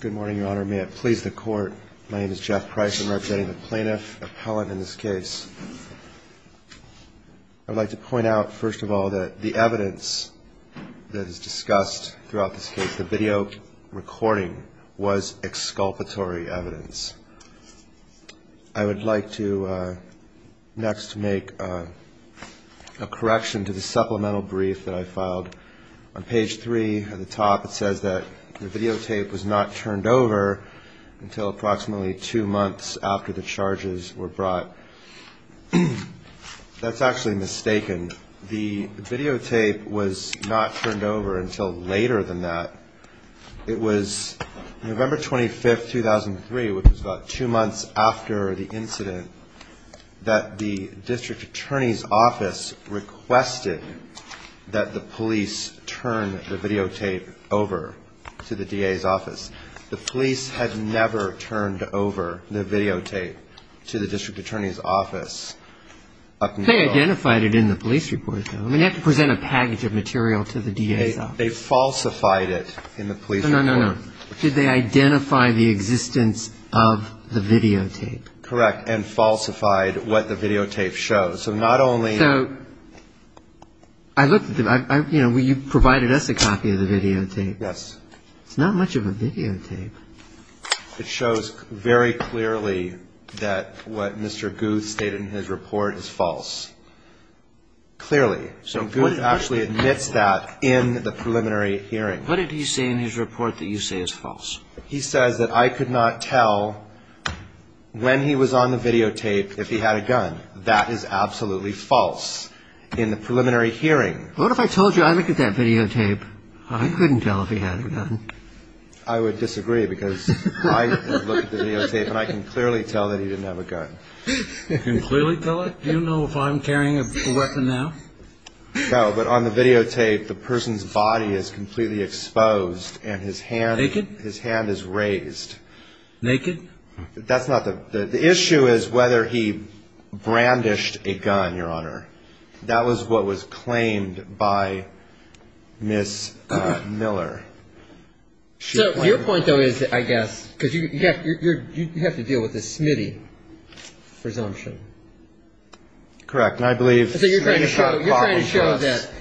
Good morning, Your Honor. May it please the Court, my name is Jeff Price. I'm representing the Plaintiff Appellant in this case. I'd like to point out, first of all, that the evidence that is discussed throughout this case, the video recording, was exculpatory evidence. I would like to next make a correction to the supplemental brief that I filed. On page 3 at the top it says that the videotape was not turned over until approximately two months after the charges were brought. That's actually mistaken. The videotape was not turned over until later than that. It was November 25, 2003, which was about two months after the incident, that the district attorney's office requested that the police turn the videotape over to the DA's office. The police had never turned over the videotape to the district attorney's office. They identified it in the police report, though. I mean, you have to present a package of material to the DA's office. They falsified it in the police report. No, no, no. Did they identify the existence of the videotape? Correct, and falsified what the videotape shows. So not only... So, I looked at the... you provided us a copy of the videotape. Yes. It's not much of a videotape. It shows very clearly that what Mr. Guth stated in his report is false. Clearly. So, what did... Guth actually admits that in the preliminary hearing. What did he say in his report that you say is false? He says that I could not tell when he was on the videotape if he had a gun. That is absolutely false. In the preliminary hearing... What if I told you I looked at that videotape? I couldn't tell if he had a gun. I would disagree because I looked at the videotape and I can clearly tell that he didn't have a gun. You can clearly tell it? Do you know if I'm carrying a weapon now? No, but on the videotape, the person's body is completely exposed and his hand... Naked? His hand is raised. Naked? That's not the... the issue is whether he brandished a gun, Your Honor. That was what was claimed by Ms. Miller. So, your point though is, I guess, because you have to deal with the Smitty presumption. Correct, and I believe... So, you're trying to show that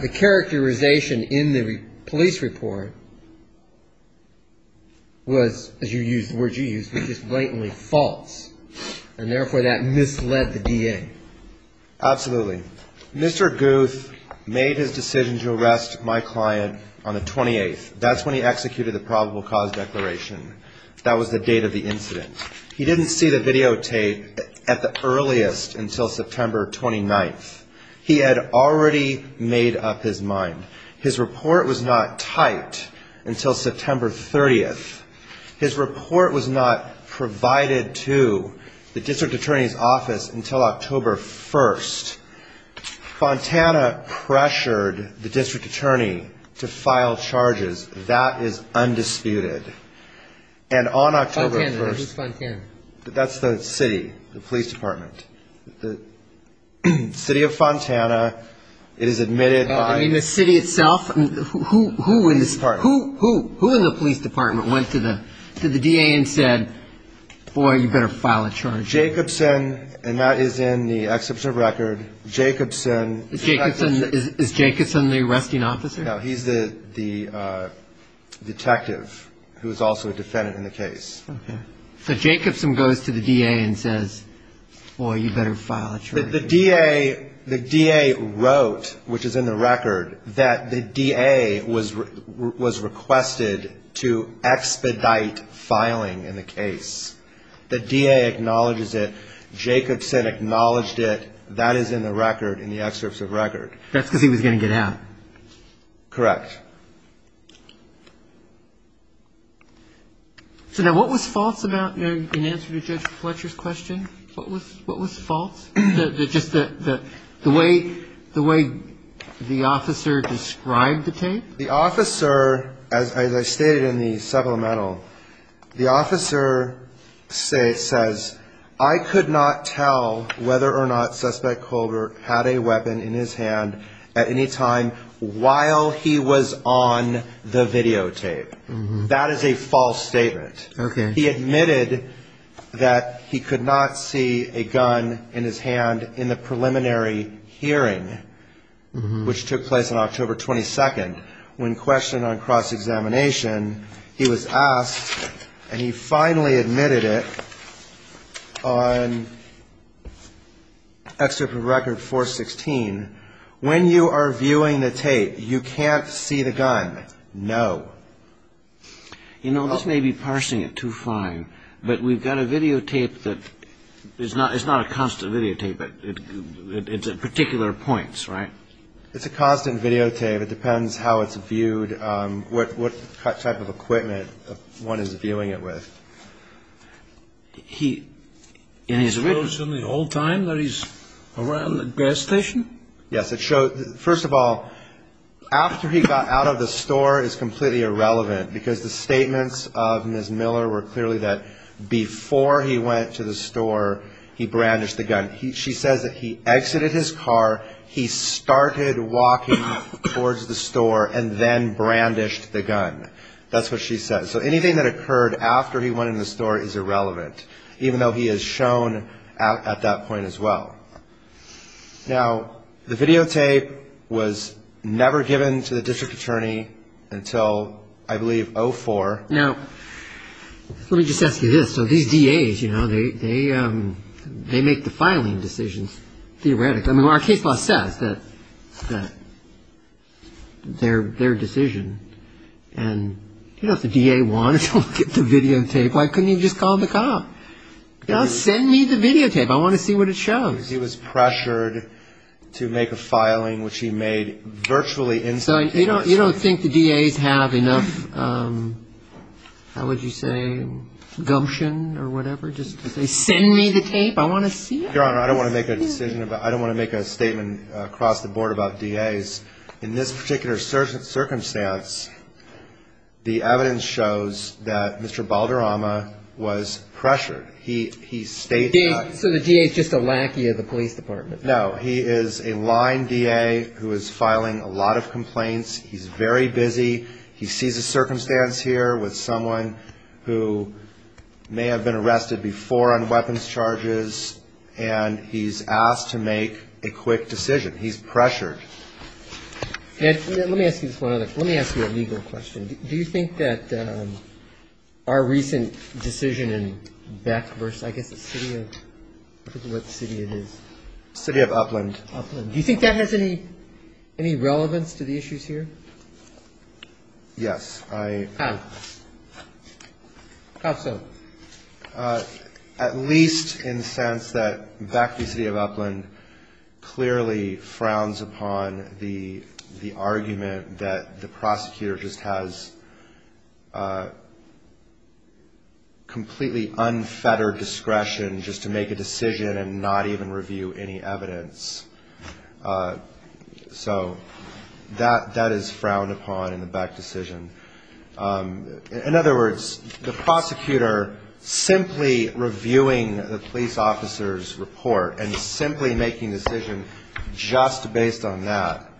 the characterization in the police report was, as you used, the word you used, was just blatantly false. And therefore, that misled the DA. Absolutely. Mr. Guth made his decision to arrest my client on the 28th. That's when he executed the probable cause declaration. That was the date of the incident. He didn't see the videotape at the earliest until September 29th. He had already made up his mind. His report was not typed until September 30th. His report was not provided to the district attorney's office until October 1st. Fontana pressured the district attorney to file charges. That is undisputed. And on October 1st... Fontana, who's Fontana? That's the city, the police department. The city of Fontana, it is admitted by... ...to the DA and said, boy, you better file a charge. Jacobson, and that is in the exceptional record, Jacobson... Is Jacobson the arresting officer? No, he's the detective, who is also a defendant in the case. Okay. So, Jacobson goes to the DA and says, boy, you better file a charge. The DA wrote, which is in the record, that the DA was requested to expedite filing in the case. The DA acknowledges it. Jacobson acknowledged it. That is in the record, in the excerpts of record. That's because he was going to get out. Correct. So, now, what was false about... In answer to Judge Fletcher's question, what was false? Just the way the officer described the tape? The officer, as I stated in the supplemental, the officer says, I could not tell whether or not Suspect Colbert had a weapon in his hand at any time while he was on the videotape. That is a false statement. He admitted that he could not see a gun in his hand in the preliminary hearing, which took place on October 22nd, when questioned on cross-examination. He was asked, and he finally admitted it, on... ...excerpt from record 416, when you are viewing the tape, you can't see the gun. No. You know, this may be parsing it too fine, but we've got a videotape that... It's not a constant videotape, but it's at particular points, right? It's a constant videotape. It depends how it's viewed, what type of equipment one is viewing it with. He... It shows him the whole time that he's around the gas station? Yes, it shows... First of all, after he got out of the store is completely irrelevant, because the statements of Ms. Miller were clearly that before he went to the store, he brandished the gun. She says that he exited his car, he started walking towards the store, and then brandished the gun. That's what she says. So anything that occurred after he went into the store is irrelevant, even though he is shown at that point as well. Now, the videotape was never given to the district attorney until, I believe, 04. Now, let me just ask you this. So these DAs, you know, they make the filing decisions theoretically. I mean, our case law says that their decision and, you know, if the DA wanted to look at the videotape, why couldn't he just call the cop? You know, send me the videotape. I want to see what it shows. He was pressured to make a filing which he made virtually instantaneously. So you don't think the DAs have enough, how would you say, gumption or whatever just to say, send me the tape, I want to see it? Your Honor, I don't want to make a statement across the board about DAs. In this particular circumstance, the evidence shows that Mr. Balderrama was pressured. So the DA is just a lackey of the police department? No, he is a line DA who is filing a lot of complaints. He's very busy. He sees a circumstance here with someone who may have been arrested before on weapons charges and he's asked to make a quick decision. He's pressured. Let me ask you a legal question. Do you think that our recent decision in Beck versus I guess the city of, I forget what city it is. The city of Upland. Upland. Do you think that has any relevance to the issues here? Yes. How? How so? At least in the sense that Beck versus the city of Upland clearly frowns upon the argument that the prosecutor just has completely unfettered discretion just to make a decision and not even review any evidence. So that is frowned upon in the Beck decision. In other words, the prosecutor simply reviewing the police officer's report and simply making a decision just based on that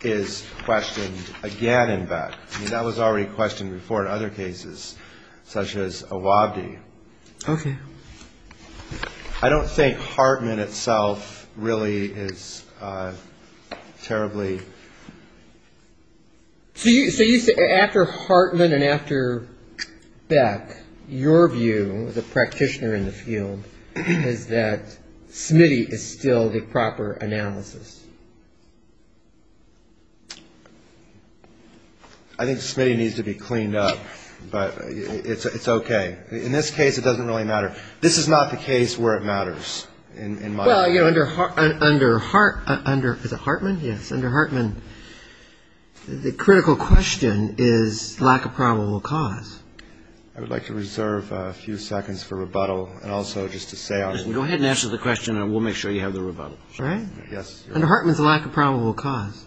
is questioned again in Beck. That was already questioned before in other cases such as Awabdi. Okay. I don't think Hartman itself really is terribly. So you say after Hartman and after Beck, your view as a practitioner in the field is that Smitty is still the proper analysis. I think Smitty needs to be cleaned up, but it's okay. In this case, it doesn't really matter. This is not the case where it matters in my view. Well, you know, under Hartman, the critical question is lack of probable cause. I would like to reserve a few seconds for rebuttal and also just to say on this. Go ahead and answer the question, and we'll make sure you have the rebuttal. All right. Under Hartman, it's lack of probable cause.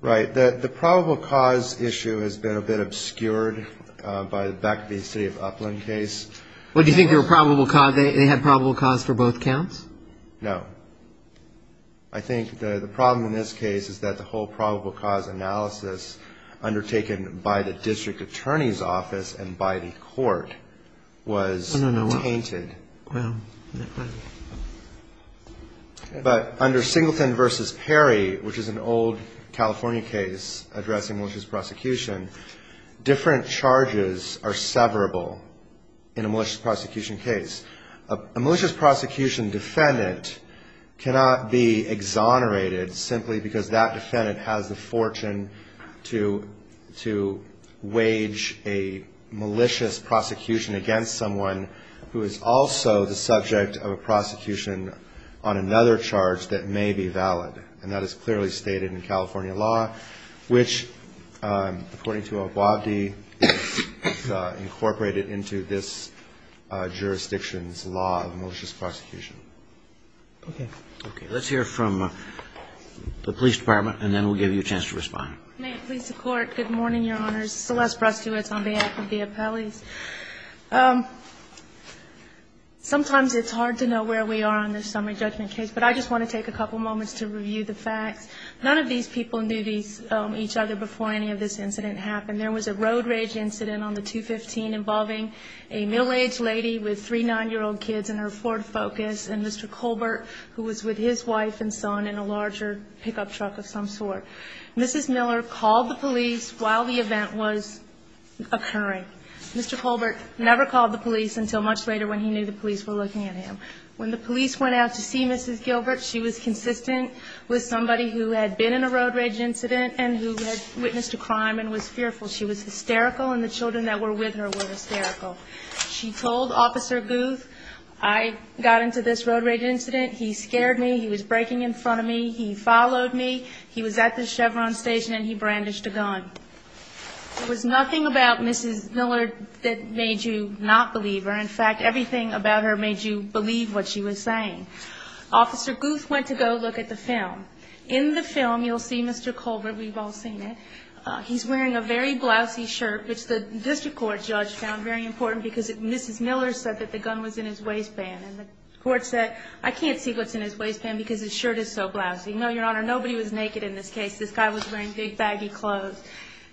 Right. The probable cause issue has been a bit obscured by the Beck v. City of Upland case. Well, do you think they had probable cause for both counts? No. I think the problem in this case is that the whole probable cause analysis undertaken by the district attorney's office and by the court was tainted. But under Singleton v. Perry, which is an old California case addressing malicious prosecution, different charges are severable in a malicious prosecution case. A malicious prosecution defendant cannot be exonerated simply because that defendant has the fortune to wage a malicious prosecution against someone who is also the subject of a prosecution on another charge that may be valid. And that is clearly stated in California law, which, according to Obabdi, is incorporated into this jurisdiction's law of malicious prosecution. Okay. Okay. Let's hear from the police department, and then we'll give you a chance to respond. May it please the Court. Good morning, Your Honors. Celeste Brustewitz on behalf of the appellees. Sometimes it's hard to know where we are on this summary judgment case, but I just want to take a couple moments to review the facts. None of these people knew each other before any of this incident happened. There was a road rage incident on the 215 involving a middle-aged lady with three 9-year-old kids in her Ford Focus and Mr. Colbert, who was with his wife and son in a larger pickup truck of some sort. Mrs. Miller called the police while the event was occurring. Mr. Colbert never called the police until much later when he knew the police were looking at him. When the police went out to see Mrs. Gilbert, she was consistent with somebody who had been in a road rage incident and who had witnessed a crime and was fearful. She was hysterical, and the children that were with her were hysterical. She told Officer Guth, I got into this road rage incident. He scared me. He was braking in front of me. He followed me. He was at the Chevron station, and he brandished a gun. It was nothing about Mrs. Miller that made you not believe her. In fact, everything about her made you believe what she was saying. Officer Guth went to go look at the film. In the film, you'll see Mr. Colbert. We've all seen it. He's wearing a very blousy shirt, which the district court judge found very important, because Mrs. Miller said that the gun was in his waistband. And the court said, I can't see what's in his waistband because his shirt is so blousy. No, Your Honor, nobody was naked in this case. This guy was wearing big, baggy clothes.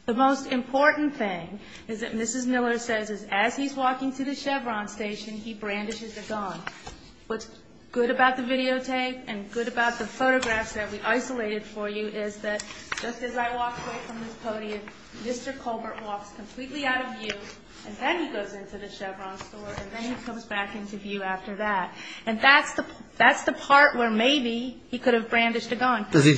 The most important thing is that Mrs. Miller says as he's walking to the Chevron station, he brandishes a gun. What's good about the videotape and good about the photographs that we isolated for you is that just as I walk away from this podium, Mr. Colbert walks completely out of view, and then he goes into the Chevron store, and then he comes back into view after that. And that's the part where maybe he could have brandished a gun. Because he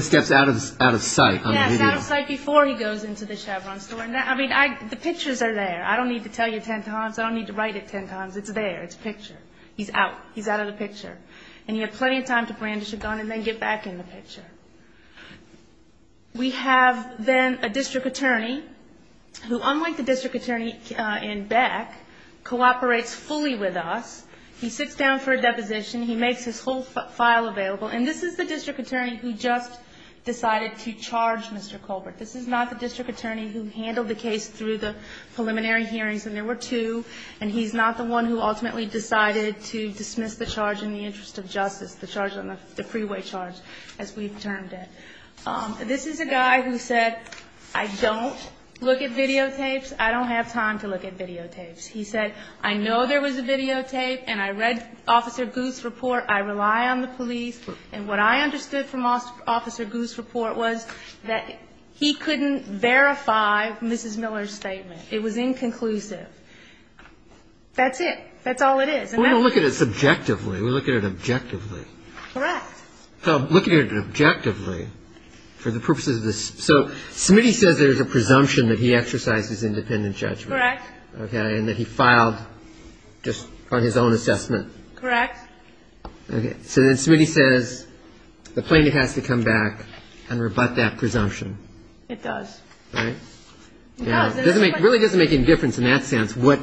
steps out of sight on the video. Yes, out of sight before he goes into the Chevron store. I mean, the pictures are there. I don't need to tell you ten times. I don't need to write it ten times. It's there. It's a picture. He's out. He's out of the picture. And you have plenty of time to brandish a gun and then get back in the picture. We have then a district attorney who, unlike the district attorney in Beck, cooperates fully with us. He sits down for a deposition. He makes his whole file available. And this is the district attorney who just decided to charge Mr. Colbert. This is not the district attorney who handled the case through the preliminary hearings. And there were two. And he's not the one who ultimately decided to dismiss the charge in the interest of justice, the charge on the freeway charge, as we've termed it. This is a guy who said, I don't look at videotapes. I don't have time to look at videotapes. He said, I know there was a videotape and I read Officer Goose's report. I rely on the police. And what I understood from Officer Goose's report was that he couldn't verify Mrs. Miller's statement. It was inconclusive. That's it. That's all it is. And that's it. We don't look at it subjectively. We look at it objectively. Correct. Look at it objectively for the purposes of this. So Smitty says there's a presumption that he exercises independent judgment. Correct. Okay. And that he filed just on his own assessment. Correct. Okay. So then Smitty says the plaintiff has to come back and rebut that presumption. It does. Right? It does. It really doesn't make any difference in that sense what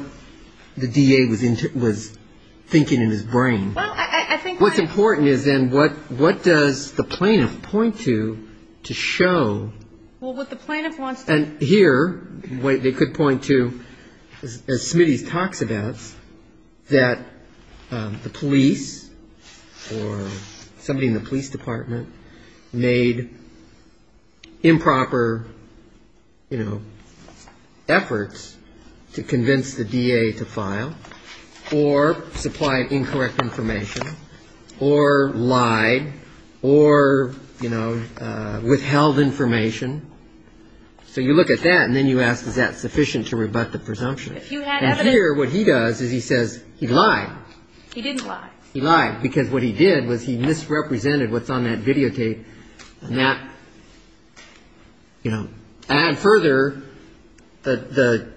the DA was thinking in his brain. Well, I think what's important is then what does the plaintiff point to to show? Well, what the plaintiff wants to show. And here they could point to, as Smitty talks about, that the police or somebody in the police department made improper, you know, efforts to convince the DA to file or supplied incorrect information or lied or, you know, withheld information. So you look at that and then you ask is that sufficient to rebut the presumption. If you had evidence. And here what he does is he says he lied. He didn't lie. He lied because what he did was he misrepresented what's on that videotape and that, you know. And further, the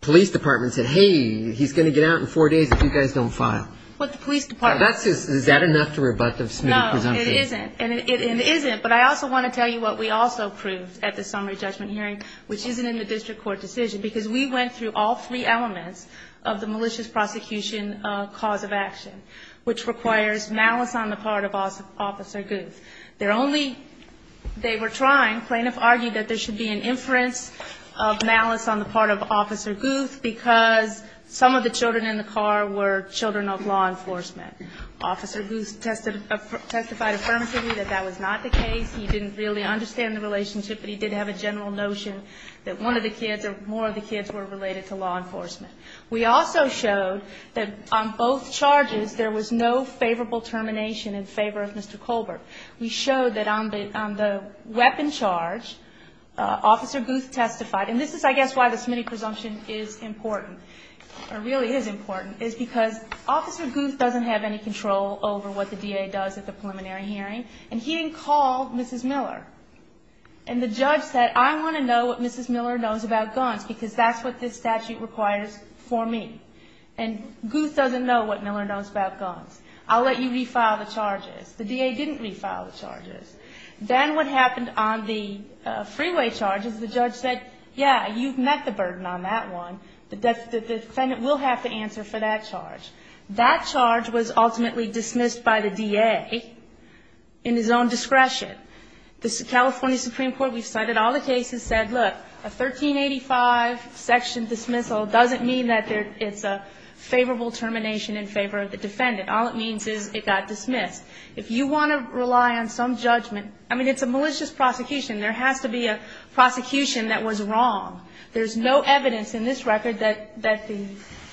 police department said, hey, he's going to get out in four days if you guys don't file. What the police department. Is that enough to rebut the Smitty presumption? No, it isn't. But I also want to tell you what we also proved at the summary judgment hearing, which isn't in the district court decision, because we went through all three elements of the malicious prosecution cause of action, which requires malice on the part of Officer Guth. They're only, they were trying, plaintiff argued that there should be an inference of malice on the part of Officer Guth because some of the children in the car were children of law enforcement. Officer Guth testified affirmatively that that was not the case. He didn't really understand the relationship, but he did have a general notion that one of the kids or more of the kids were related to law enforcement. We also showed that on both charges there was no favorable termination in favor of Mr. Colbert. We showed that on the weapon charge, Officer Guth testified, and this is, I guess, why the Smitty presumption is important, or really is important, is because Officer Guth doesn't have any control over what the DA does at the preliminary hearing, and he didn't call Mrs. Miller. And the judge said, I want to know what Mrs. Miller knows about guns because that's what this statute requires for me. And Guth doesn't know what Miller knows about guns. I'll let you refile the charges. The DA didn't refile the charges. Then what happened on the freeway charge is the judge said, yeah, you've met the burden on that one. The defendant will have to answer for that charge. That charge was ultimately dismissed by the DA in his own discretion. The California Supreme Court, we've cited all the cases, said, look, a 1385 section dismissal doesn't mean that it's a favorable termination in favor of the defendant. All it means is it got dismissed. If you want to rely on some judgment, I mean, it's a malicious prosecution. There has to be a prosecution that was wrong. There's no evidence in this record that the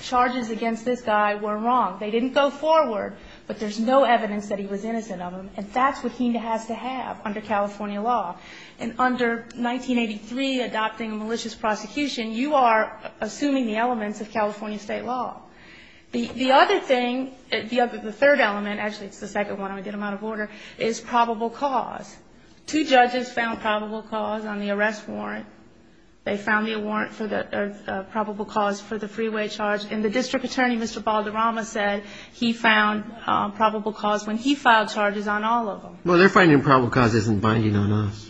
charges against this guy were wrong. They didn't go forward, but there's no evidence that he was innocent of them. And that's what he has to have under California law. And under 1983, adopting a malicious prosecution, you are assuming the elements of California state law. The other thing, the third element, actually, it's the second one, I'm going to get them out of order, is probable cause. Two judges found probable cause on the arrest warrant. They found the warrant for the probable cause for the freeway charge. And the district attorney, Mr. Balderrama, said he found probable cause when he filed charges on all of them. Well, they're finding probable cause isn't binding on us.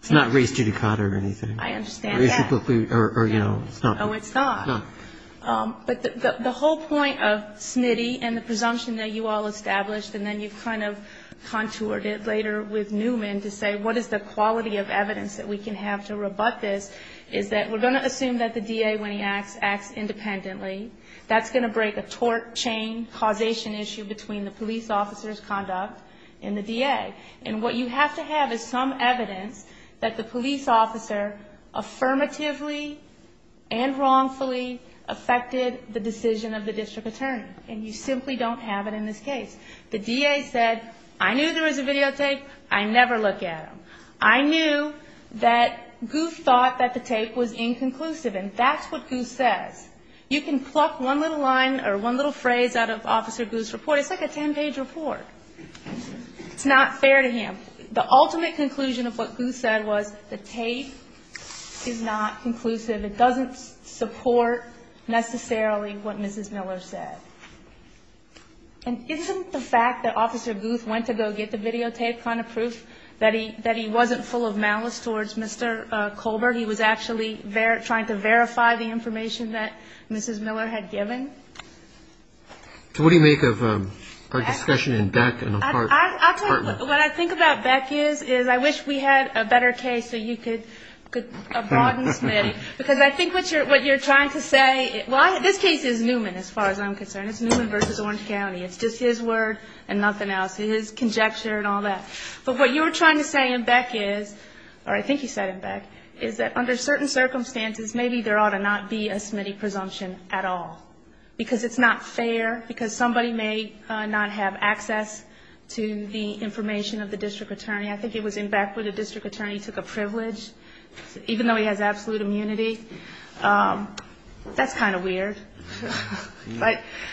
It's not race judicata or anything. I understand that. Or, you know, it's not. Oh, it's not. No. But the whole point of Snitty and the presumption that you all established, and then you kind of contoured it later with Newman to say what is the quality of evidence that we can have to rebut this, is that we're going to assume that the DA, when he acts, acts independently. That's going to break a torque chain causation issue between the police officer's conduct and the DA. And what you have to have is some evidence that the police officer affirmatively and wrongfully affected the decision of the district attorney. And you simply don't have it in this case. The DA said, I knew there was a videotape. I never look at them. I knew that Goose thought that the tape was inconclusive. And that's what Goose says. You can pluck one little line or one little phrase out of Officer Goose's report. It's like a ten-page report. It's not fair to him. The ultimate conclusion of what Goose said was the tape is not conclusive. It doesn't support necessarily what Mrs. Miller said. And isn't the fact that Officer Goose went to go get the videotape kind of proof that he wasn't full of malice towards Mr. Colbert? He was actually trying to verify the information that Mrs. Miller had given? So what do you make of our discussion in Beck and a partner? What I think about Beck is, is I wish we had a better case so you could broaden Smitty. Because I think what you're trying to say, well, this case is Newman as far as I'm concerned. It's Newman versus Orange County. It's just his word and nothing else, his conjecture and all that. But what you were trying to say in Beck is, or I think you said in Beck, is that under certain circumstances, maybe there ought to not be a Smitty presumption at all. Because it's not fair. Because somebody may not have access to the information of the district attorney. I think it was in Beck where the district attorney took a privilege, even though he has absolute immunity. That's kind of weird.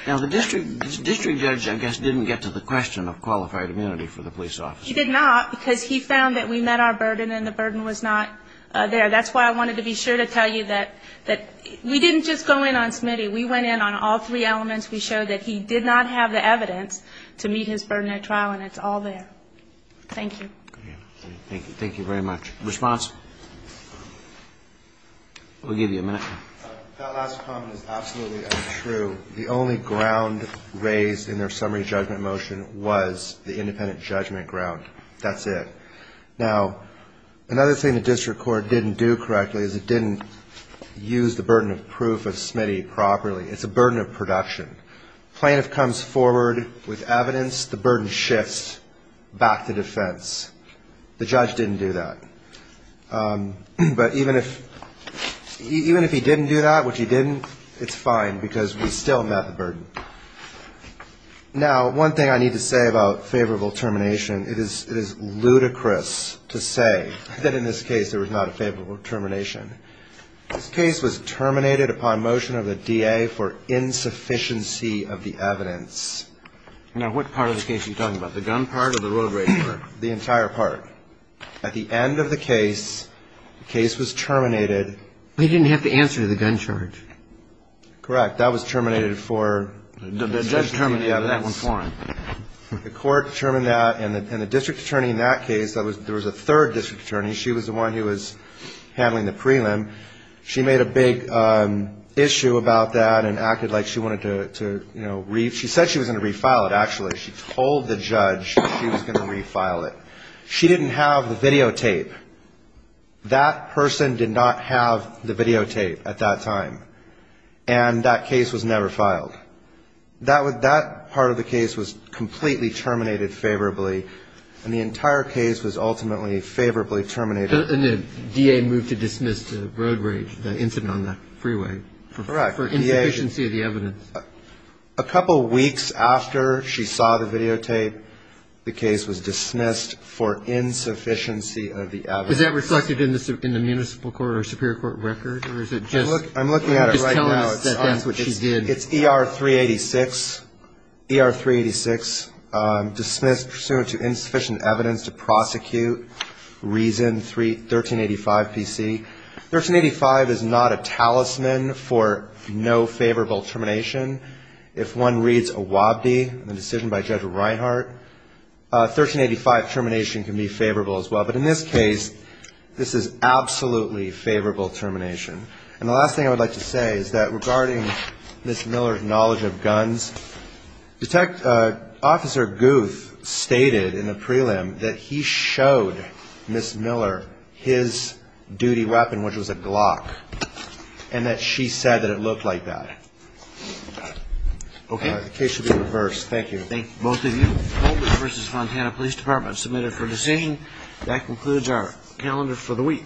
Now, the district judge, I guess, didn't get to the question of qualified immunity for the police officer. He did not, because he found that we met our burden and the burden was not there. That's why I wanted to be sure to tell you that we didn't just go in on Smitty. We went in on all three elements. We showed that he did not have the evidence to meet his burden at trial, and it's all there. Thank you. Thank you very much. Response? We'll give you a minute. That last comment is absolutely untrue. The only ground raised in their summary judgment motion was the independent judgment ground. That's it. Now, another thing the district court didn't do correctly is it didn't use the burden of proof of Smitty properly. It's a burden of production. Plaintiff comes forward with evidence, the burden shifts back to defense. The judge didn't do that. But even if he didn't do that, which he didn't, it's fine, because we still met the burden. Now, one thing I need to say about favorable termination, it is ludicrous to say that in this case there was not a favorable termination. This case was terminated upon motion of the DA for insufficiency of the evidence. Now, what part of the case are you talking about, the gun part or the road rapier? The entire part. At the end of the case, the case was terminated. They didn't have to answer to the gun charge. Correct. That was terminated for insufficiency of the evidence. The judge terminated that one for him. The court determined that, and the district attorney in that case, there was a third district attorney. She was the one who was handling the prelim. She made a big issue about that and acted like she wanted to, you know, she said she was going to refile it, actually. She told the judge she was going to refile it. She didn't have the videotape. That person did not have the videotape at that time, and that case was never filed. That part of the case was completely terminated favorably, and the entire case was ultimately favorably terminated. And the DA moved to dismiss the road rage, the incident on the freeway. For insufficiency of the evidence. A couple weeks after she saw the videotape, the case was dismissed for insufficiency of the evidence. Is that reflected in the municipal court or superior court record, or is it just? I'm looking at it right now. Just telling us that that's what she did. It's ER 386. ER 386, dismissed pursuant to insufficient evidence to prosecute, Reason 1385 PC. 1385 is not a talisman for no favorable termination. If one reads a Wabdi, the decision by Judge Reinhart, 1385 termination can be favorable as well. But in this case, this is absolutely favorable termination. And the last thing I would like to say is that regarding Ms. Miller's knowledge of guns, Detective, Officer Guth stated in the prelim that he showed Ms. Miller his duty weapon, which was a Glock. And that she said that it looked like that. Okay, the case should be reversed. Thank you. Thank both of you. Holden v. Fontana Police Department, submitted for decision. That concludes our calendar for the week. Thank you.